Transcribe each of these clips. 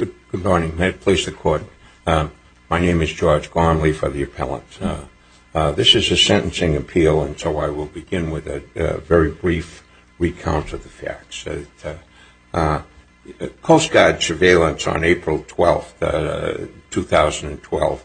Good morning. May it please the Court. My name is George Gormley for the Appellant. This is a sentencing appeal and so I will begin with a very brief recount of the facts. Coast Guard surveillance on April 12, 2012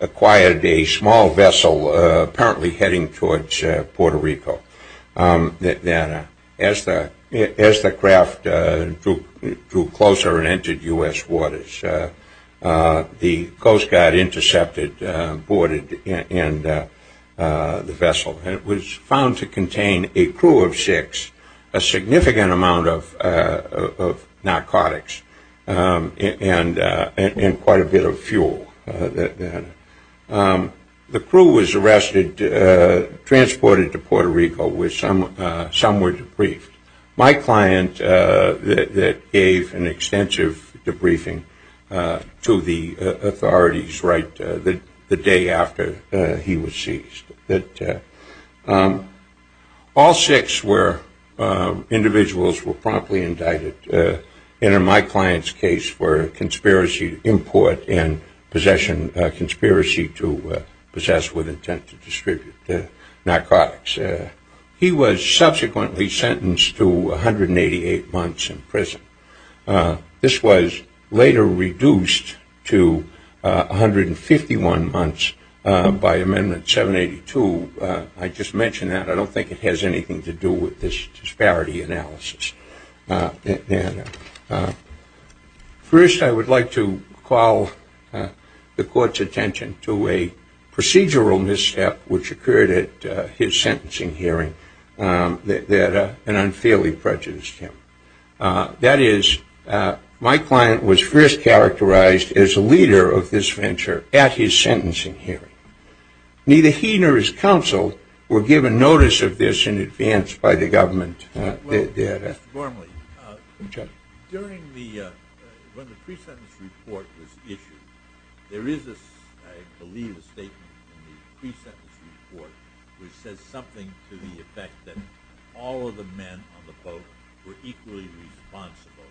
acquired a small vessel apparently heading towards Puerto Rico. As the craft drew closer and entered U.S. waters, the Coast Guard intercepted and deported the vessel. It was found to contain a crew of six, a significant amount of narcotics and quite a bit of fuel. The crew was arrested, transported to Puerto Rico where some were debriefed. My client gave an extensive debriefing to the authorities right the day after he was seized. All six individuals were promptly indicted and in my client's case were conspiracy to import and possession, conspiracy to possess with intent to distribute the subsequently sentenced to 188 months in prison. This was later reduced to 151 months by Amendment 782. I just mention that. I don't think it has anything to do with this disparity analysis. First, I would like to call the Court's attention to a procedural misstep which occurred at his hearing and unfairly prejudiced him. That is, my client was first characterized as a leader of this venture at his sentencing hearing. Neither he nor his counsel were given notice of this in advance by the government. Mr. Gormley, when the pre-sentence report was issued, there is, I believe, a statement in the pre-sentence report which says something to the effect that all of the men on the boat were equally responsible,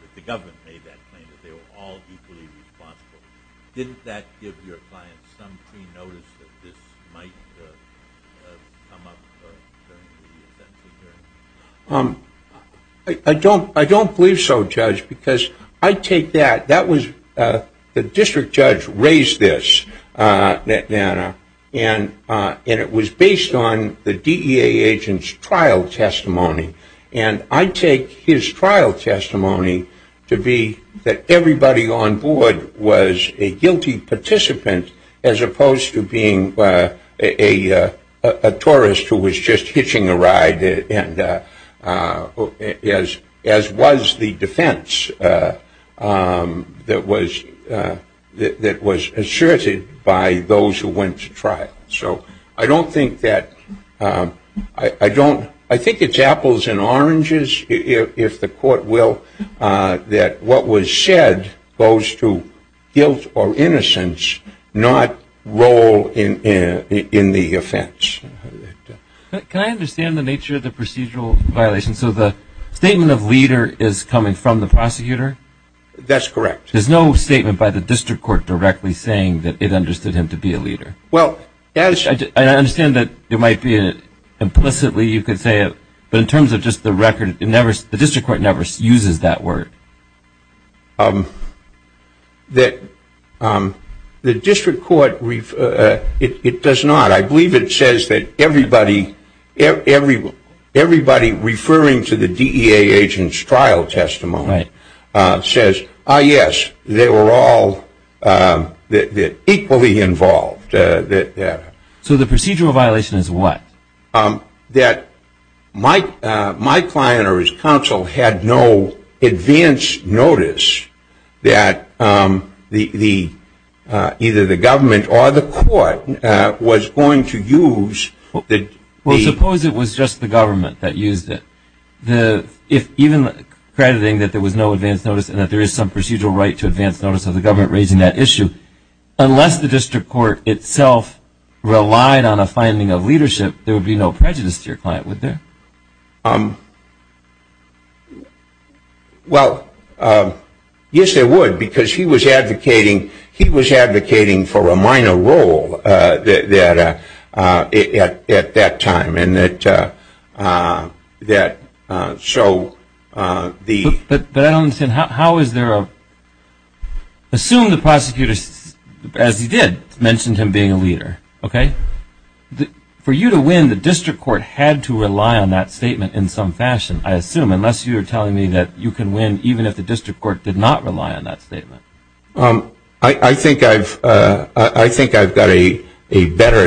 that the government made that claim, that they were all equally responsible. Didn't that give your client some pre-notice that this might come up during the sentencing hearing? I don't believe so, Judge, because I take that. The district judge raised this, and it was based on the DEA agent's trial testimony, and I take his trial testimony to be that everybody on board was a guilty participant as opposed to being a tourist who was just hitching a ride, as was the defense that was asserted by those who went to trial. So I don't think that, I don't, I think it's apples and oranges, if the court will, that what was said goes to guilt or innocence, not role in the offense. Can I understand the nature of the procedural violation? So the statement of leader is coming from the prosecutor? That's correct. There's no statement by the district court directly saying that it understood him to be a leader? Well, as I understand that there might be, implicitly you could say it, but in terms of just the record, the district court never uses that word. The district court, it does not. I believe it says that everybody referring to the DEA agent's trial testimony says, ah yes, they were all equally involved. So the procedural violation is what? That my client or his counsel had no advance notice that either the government or the court was going to use. Well, suppose it was just the government that used it. Even crediting that there was no advance notice and that there is some procedural right to advance notice of the government raising that issue, unless the district court itself relied on a finding of leadership, there would be no prejudice to your client, would there? Well, yes, there would, because he was advocating, he was advocating for a minor role that at that time, and that show the- But I don't understand, how is there a- assume the prosecutor, as he did, mentioned him being a leader, okay? For you to win, the district court had to rely on that statement in some fashion, I assume, unless you're telling me that you can win even if the district court did not rely on that statement. I think I've got a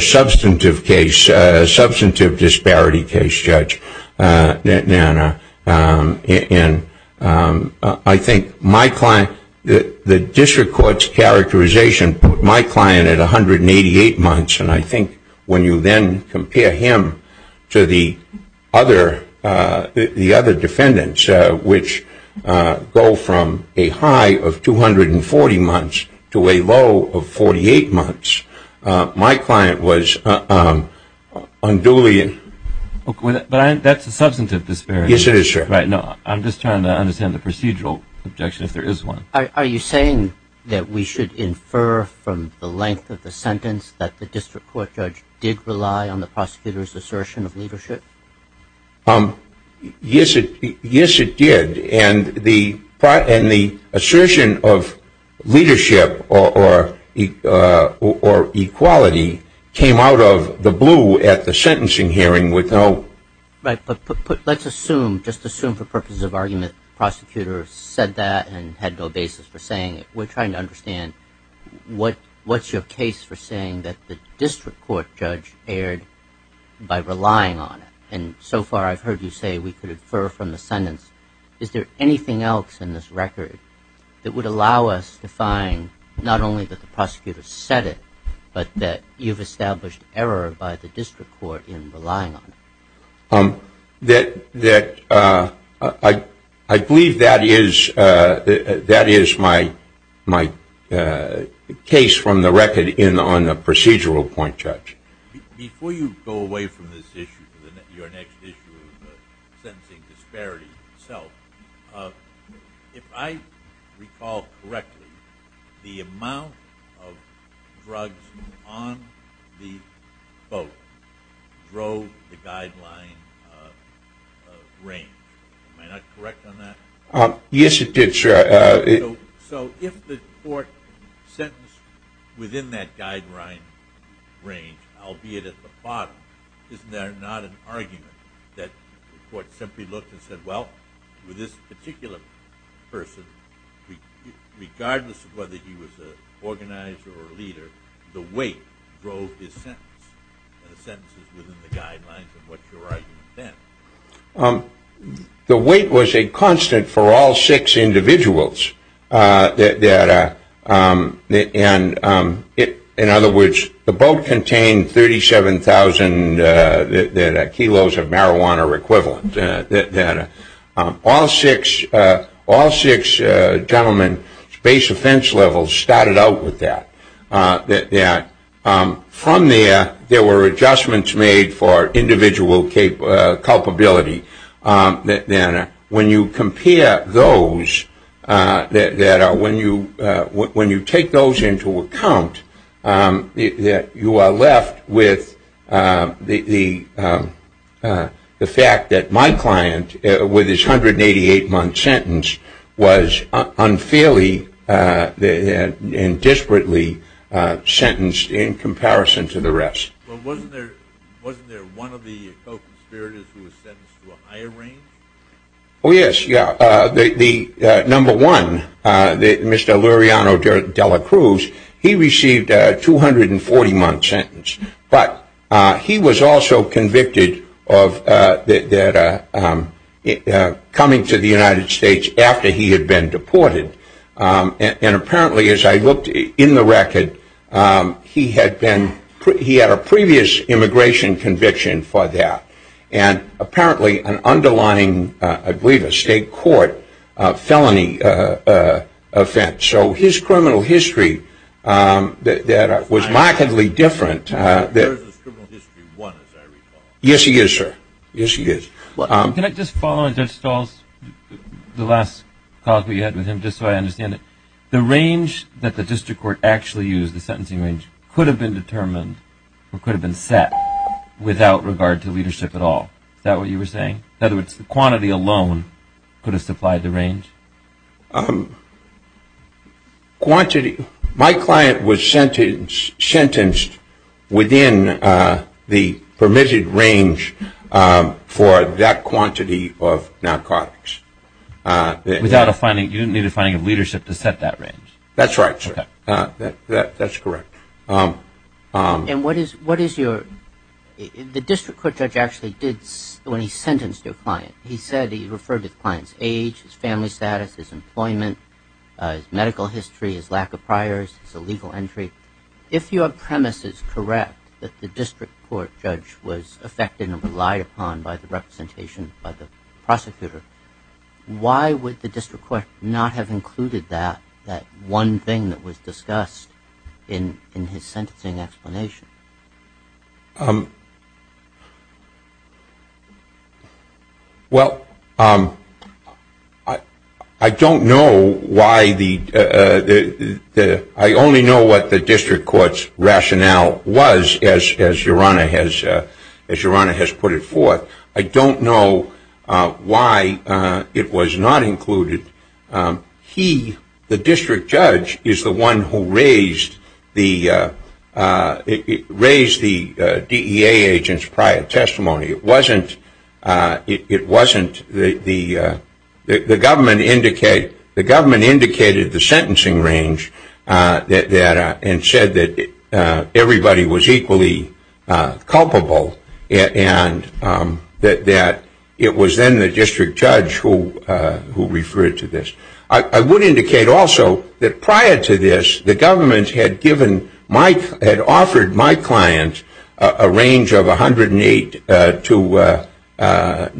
substantive case, a substantive disparity case, Judge Nanna, and I think my client- the district court's characterization put my client at 188 months, and I think when you then compare him to the other defendants, which go from a high of 240 months to a low of 48 months, my client was unduly- But that's a substantive disparity. Yes, it is, sir. Right, no, I'm just trying to understand the procedural objection, if there is one. Are you saying that we should infer from the length of the sentence that the district court judge did rely on the prosecutor's assertion of leadership? Yes, it did, and the assertion of leadership or equality came out of the blue at the sentencing hearing with no- Right, but let's assume, just assume for purposes of argument, the prosecutor said that and had no basis for saying it. We're trying to understand what's your case for saying that the district court judge erred by relying on it, and so far I've heard you say we could infer from the sentence. Is there anything else in this record that would allow us to find not only that the prosecutor said it, but that you've established error by the district court in relying on it? That I believe that is my case from the record in on the procedural point, Judge. Before you go away from this issue, your next issue of the sentencing disparity itself, if I recall correctly, the amount of drugs on the vote drove the guideline range. Am I not correct on that? Yes, you did, sure. So if the court sentenced within that guideline range, albeit at the bottom, isn't there not an argument that the court simply looked and said, well, with this particular person, regardless of whether he was an organizer or a leader, the weight drove his sentence. The sentence is within the guidelines of what you're arguing then. The weight was a constant for all six individuals. In other words, the vote contained 37,000 kilos of marijuana equivalent. All six gentlemen's offense levels started out with that. From there, there were adjustments made for individual culpability. When you take those into account, you are left with the fact that my client, with his 188-month sentence, was unfairly and desperately sentenced in comparison to the rest. Wasn't there one of the co-conspirators who was sentenced to a higher range? Oh, yes. Number one, Mr. Luriano de la Cruz, he received a 240-month sentence, but he was also of coming to the United States after he had been deported. And apparently, as I looked in the record, he had a previous immigration conviction for that, and apparently an underlying, I believe, a state court felony offense. So his criminal history was markedly different. Yes, he is, sir. Yes, he is. Can I just follow on Judge Stahl's, the last comment we had with him, just so I understand it? The range that the district court actually used, the sentencing range, could have been determined or could have been set without regard to leadership at all. Is that what you were saying? In other words, the quantity alone could have supplied the range? Yes. My client was sentenced within the permitted range for that quantity of narcotics. Without a finding, you didn't need a finding of leadership to set that range? That's right, sir. That's correct. And what is your, the district court judge actually did, when he sentenced your client, he said he referred to the client's age, his family status, his employment, his medical history, his lack of priors, his illegal entry. If your premise is correct, that the district court judge was affected and relied upon by the representation by the prosecutor, why would the district court not have included that, that one thing that was discussed in his sentencing explanation? Well, I don't know why the, I only know what the district court's rationale was, as Yorana has, as Yorana has put it forth. I don't know why it was not included. He, the district judge, is the one who raised the DEA agent's prior testimony. It wasn't, it wasn't the, the government indicate, the government indicated the sentencing range that, and said that everybody was equally culpable and that it was then the district judge who referred to this. I would indicate also that prior to this, the government had given my, had offered my client a range of 108 to,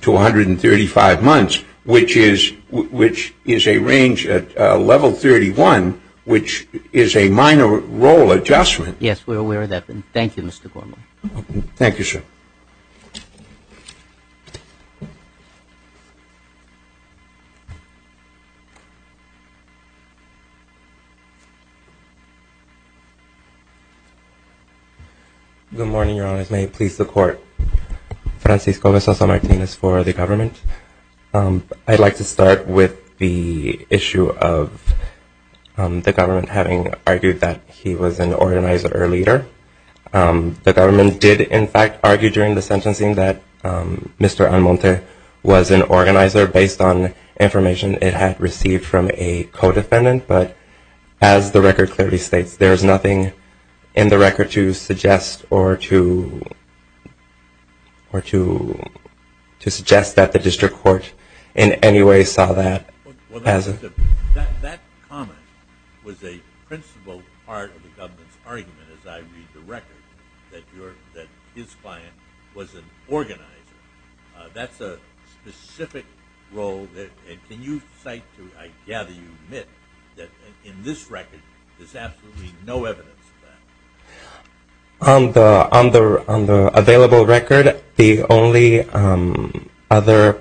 to 135 months, which is, which is a range at level 31, which is a minor role adjustment. Yes, we're aware of that. Thank you, Mr. Gorman. Thank you, sir. Good morning, Your Honors. May it please the court. Francisco Vesas Martinez for the government. I'd like to start with the issue of the government having argued that he was an organizer or leader. The government did, in fact, argue during the sentencing that Mr. Almonte was an organizer based on information it had received from a co-defendant, but as the record clearly states, there is nothing in the record to suggest or to, or to, to suggest that the district court in any way saw that as a... That comment was a principal part of the government's argument, as I read the record, that your, that his client was an organizer. That's a specific role that, and can you cite to, I gather you admit that in this record, there's absolutely no evidence of that. On the, on the, on the available record, the only other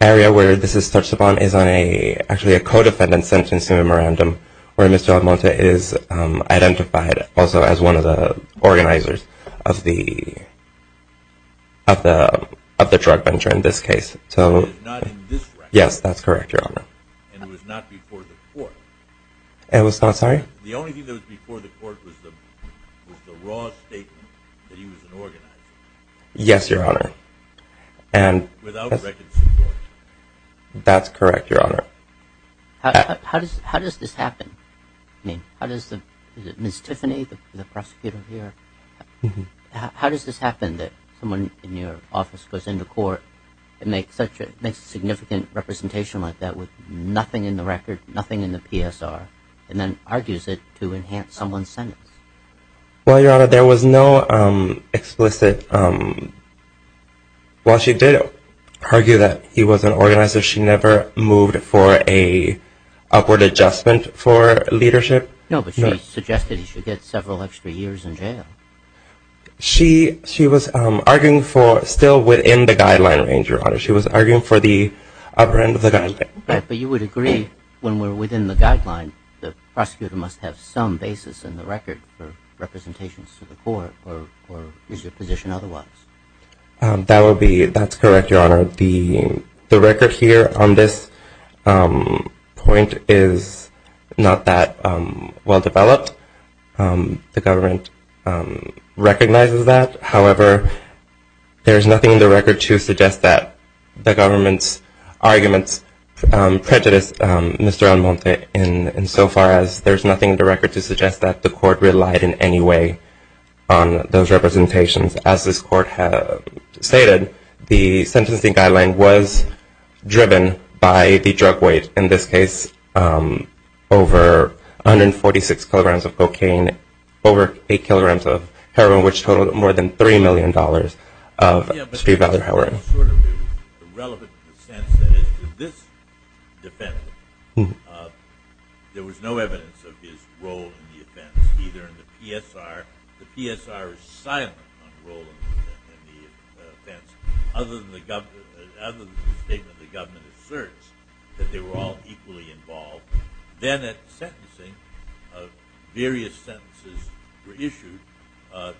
area where this is touched upon is on a, actually a co-defendant sentencing memorandum where Mr. Almonte is identified also as one of the organizers of the, of the, of the drug venture in this case, so... It is not in this record. Yes, that's correct, your honor. And it was not before the court. It was not, sorry? The only thing that was before the court was the, was the raw statement that he was an organizer. Yes, your honor, and... Without reconsideration. That's correct, your honor. How, how does, how does this happen? I mean, how does the, is it Ms. Tiffany, the prosecutor here? How, how does this happen that someone in your office goes into court and makes such a, makes a significant representation like that with nothing in the record, nothing in the PSR, and then argues it to enhance someone's sentence? Well, your honor, there was no explicit... Well, she did argue that he was an organizer. She never moved for a upward adjustment for leadership. No, but she suggested he should get several extra years in jail. She, she was arguing for, still within the guideline range, your honor. She was arguing for the upper end of the guideline. But you would agree when we're within the guideline, the court, or, or is your position otherwise? That would be, that's correct, your honor. The, the record here on this point is not that well developed. The government recognizes that. However, there's nothing in the record to suggest that the government's arguments prejudice Mr. Almonte in, in so far as there's nothing in the record to suggest that the court relied in any way on those representations. As this court had stated, the sentencing guideline was driven by the drug weight, in this case, over 146 kilograms of cocaine, over 8 kilograms of heroin, which totaled more than $3 million of street violent heroin. Yeah, but there was sort of a relevant sense that as to this defendant, there was no evidence of his role in the offense, either in the PSR. The PSR is silent on the role in the offense, other than the government, other than the statement the government asserts that they were all equally involved. Then at sentencing, various sentences were issued,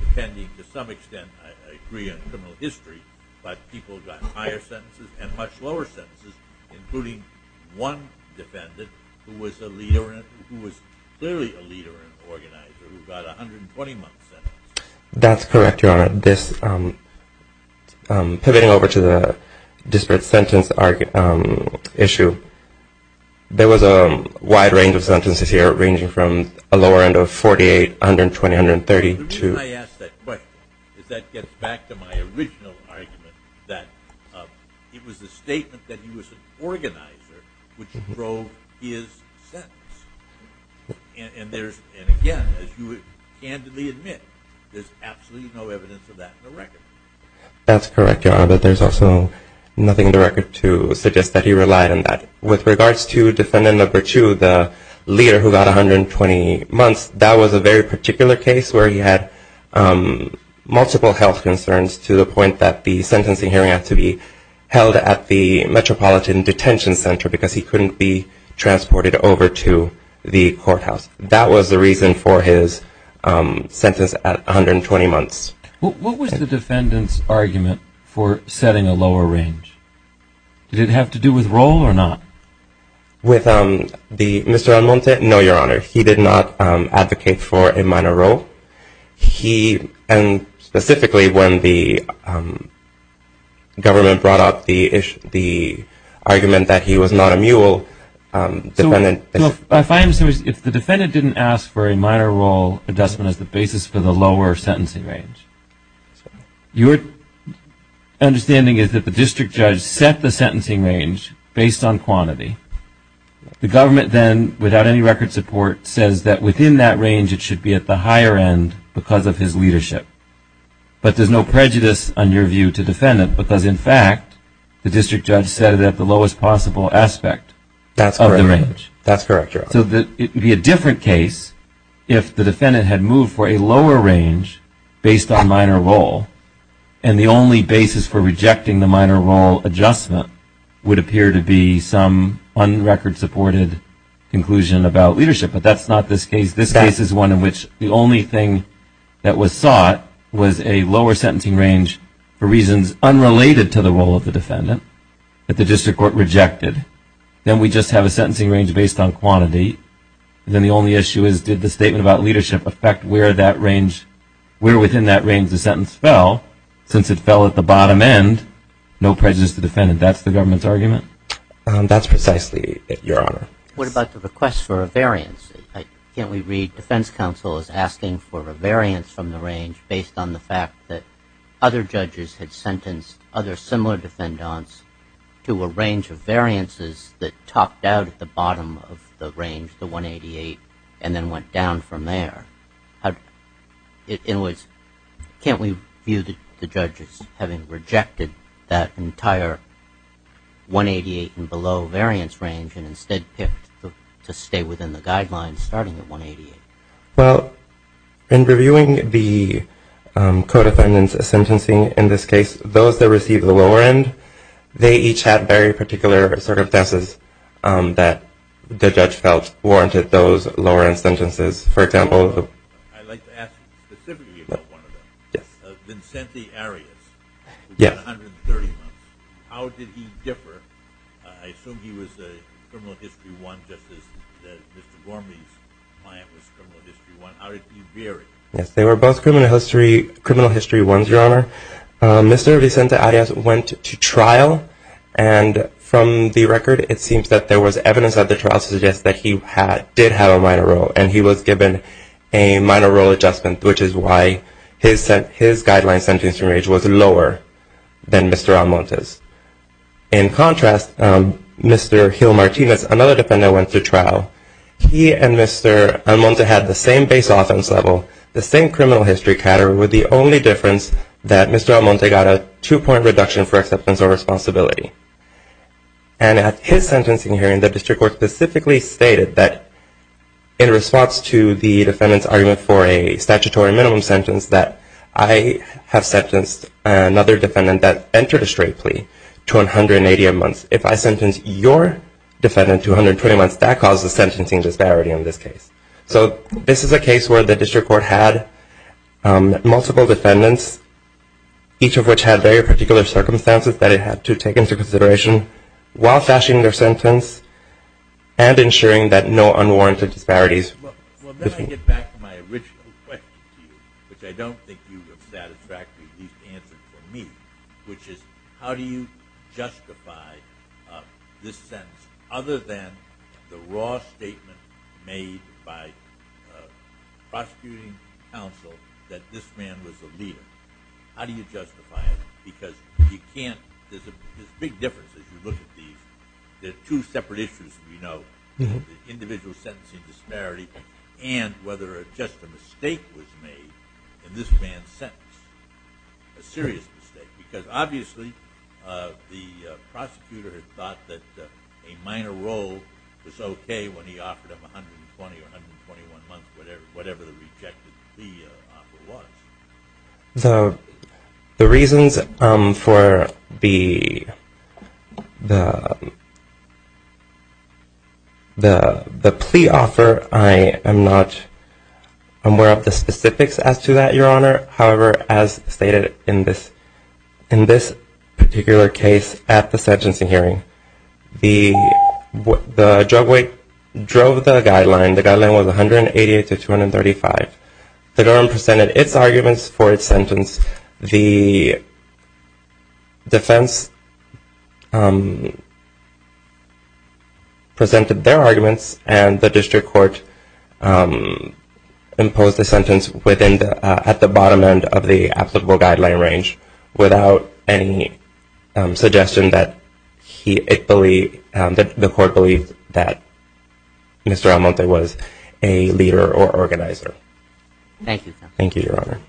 depending, to some extent, I agree on criminal history, but people got higher sentences and much lower sentences, including one defendant who was a leader, who was clearly a leader and organizer, who got 120 months. That's correct, Your Honor. This, pivoting over to the disparate sentence issue, there was a wide range of sentences here, ranging from a lower end of 48, 120, 132. The reason I ask that question is that gets back to my original argument, that it was the statement that he was an organizer which drove his sentence. And again, as you would candidly admit, there's absolutely no evidence of that in the record. That's correct, Your Honor, but there's also nothing in the record to suggest that he relied on that. With regards to defendant number two, the leader who got 120 months, that was a very particular case where he had multiple health detention centers because he couldn't be transported over to the courthouse. That was the reason for his sentence at 120 months. What was the defendant's argument for setting a lower range? Did it have to do with role or not? With Mr. Almonte? No, Your Honor. He did not argument that he was not a mule. If the defendant didn't ask for a minor role, it doesn't have the basis for the lower sentencing range. Your understanding is that the district judge set the sentencing range based on quantity. The government then, without any record support, says that within that range, it should be at the higher end because of his leadership. But there's no prejudice on your view to defendant because, in fact, the district judge set it at the lowest possible aspect of the range. That's correct, Your Honor. So it would be a different case if the defendant had moved for a lower range based on minor role and the only basis for rejecting the minor role adjustment would appear to be some on-record supported conclusion about leadership. But that's not this case. This case is one in which the only thing that was sought was a lower sentencing range for reasons unrelated to the defendant that the district court rejected. Then we just have a sentencing range based on quantity. Then the only issue is, did the statement about leadership affect where within that range the sentence fell? Since it fell at the bottom end, no prejudice to defendant. That's the government's argument? That's precisely it, Your Honor. What about the request for a variance? Can't we read defense counsel as asking for a variance from the range based on the fact that other judges had sentenced other similar defendants to a range of variances that topped out at the bottom of the range, the 188, and then went down from there? Can't we view the judges having rejected that entire 188 and below variance range and instead picked to stay within the in this case? Those that received the lower end, they each had very particular circumstances that the judge felt warranted those lower end sentences. For example, I'd like to ask specifically about one of them. Yes. Vincente Arias. Yes. 130 months. How did he differ? I assume he was a criminal history one just as Mr. Gormley's client was criminal history one. How did he vary? Yes, they were both criminal history, Your Honor. Mr. Vicente Arias went to trial. And from the record, it seems that there was evidence of the trial to suggest that he did have a minor role. And he was given a minor role adjustment, which is why his guideline sentencing range was lower than Mr. Almonte's. In contrast, Mr. Hill Martinez, another defendant, went to trial. He and Mr. Almonte had the same base offense level, the same criminal history category, with the only difference that Mr. Almonte got a two-point reduction for acceptance or responsibility. And at his sentencing hearing, the district court specifically stated that in response to the defendant's argument for a statutory minimum sentence that I have sentenced another defendant that entered a straight plea to 180 months. If I sentence your defendant to 120 months, that causes sentencing disparity in this case. So this is a case where the district court had multiple defendants, each of which had very particular circumstances that it had to take into consideration while fashioning their sentence and ensuring that no unwarranted disparities. Well, then I get back to my original question to you, which I don't think you would have satisfactorily at least answered for me, which is how do you justify a decision made by prosecuting counsel that this man was a leader? How do you justify it? Because there's a big difference as you look at these. There are two separate issues we know, individual sentencing disparity and whether just a mistake was made in this man's sentence, a serious mistake. Because obviously the prosecutor had thought that a minor role was okay when he offered him 120 or 121 months, whatever the rejected plea offer was. So the reasons for the plea offer, I am not aware of the specifics as to that, your honor. However, as stated in this particular case at the sentencing hearing, the drug weight drove the guideline. The guideline was 188 to 235. The government presented its arguments for its sentence. The defense presented their arguments, and the district court imposed the sentence at the bottom end of the applicable guideline range without any suggestion that the court believed that Mr. Almonte was a leader or organizer. Thank you, your honor.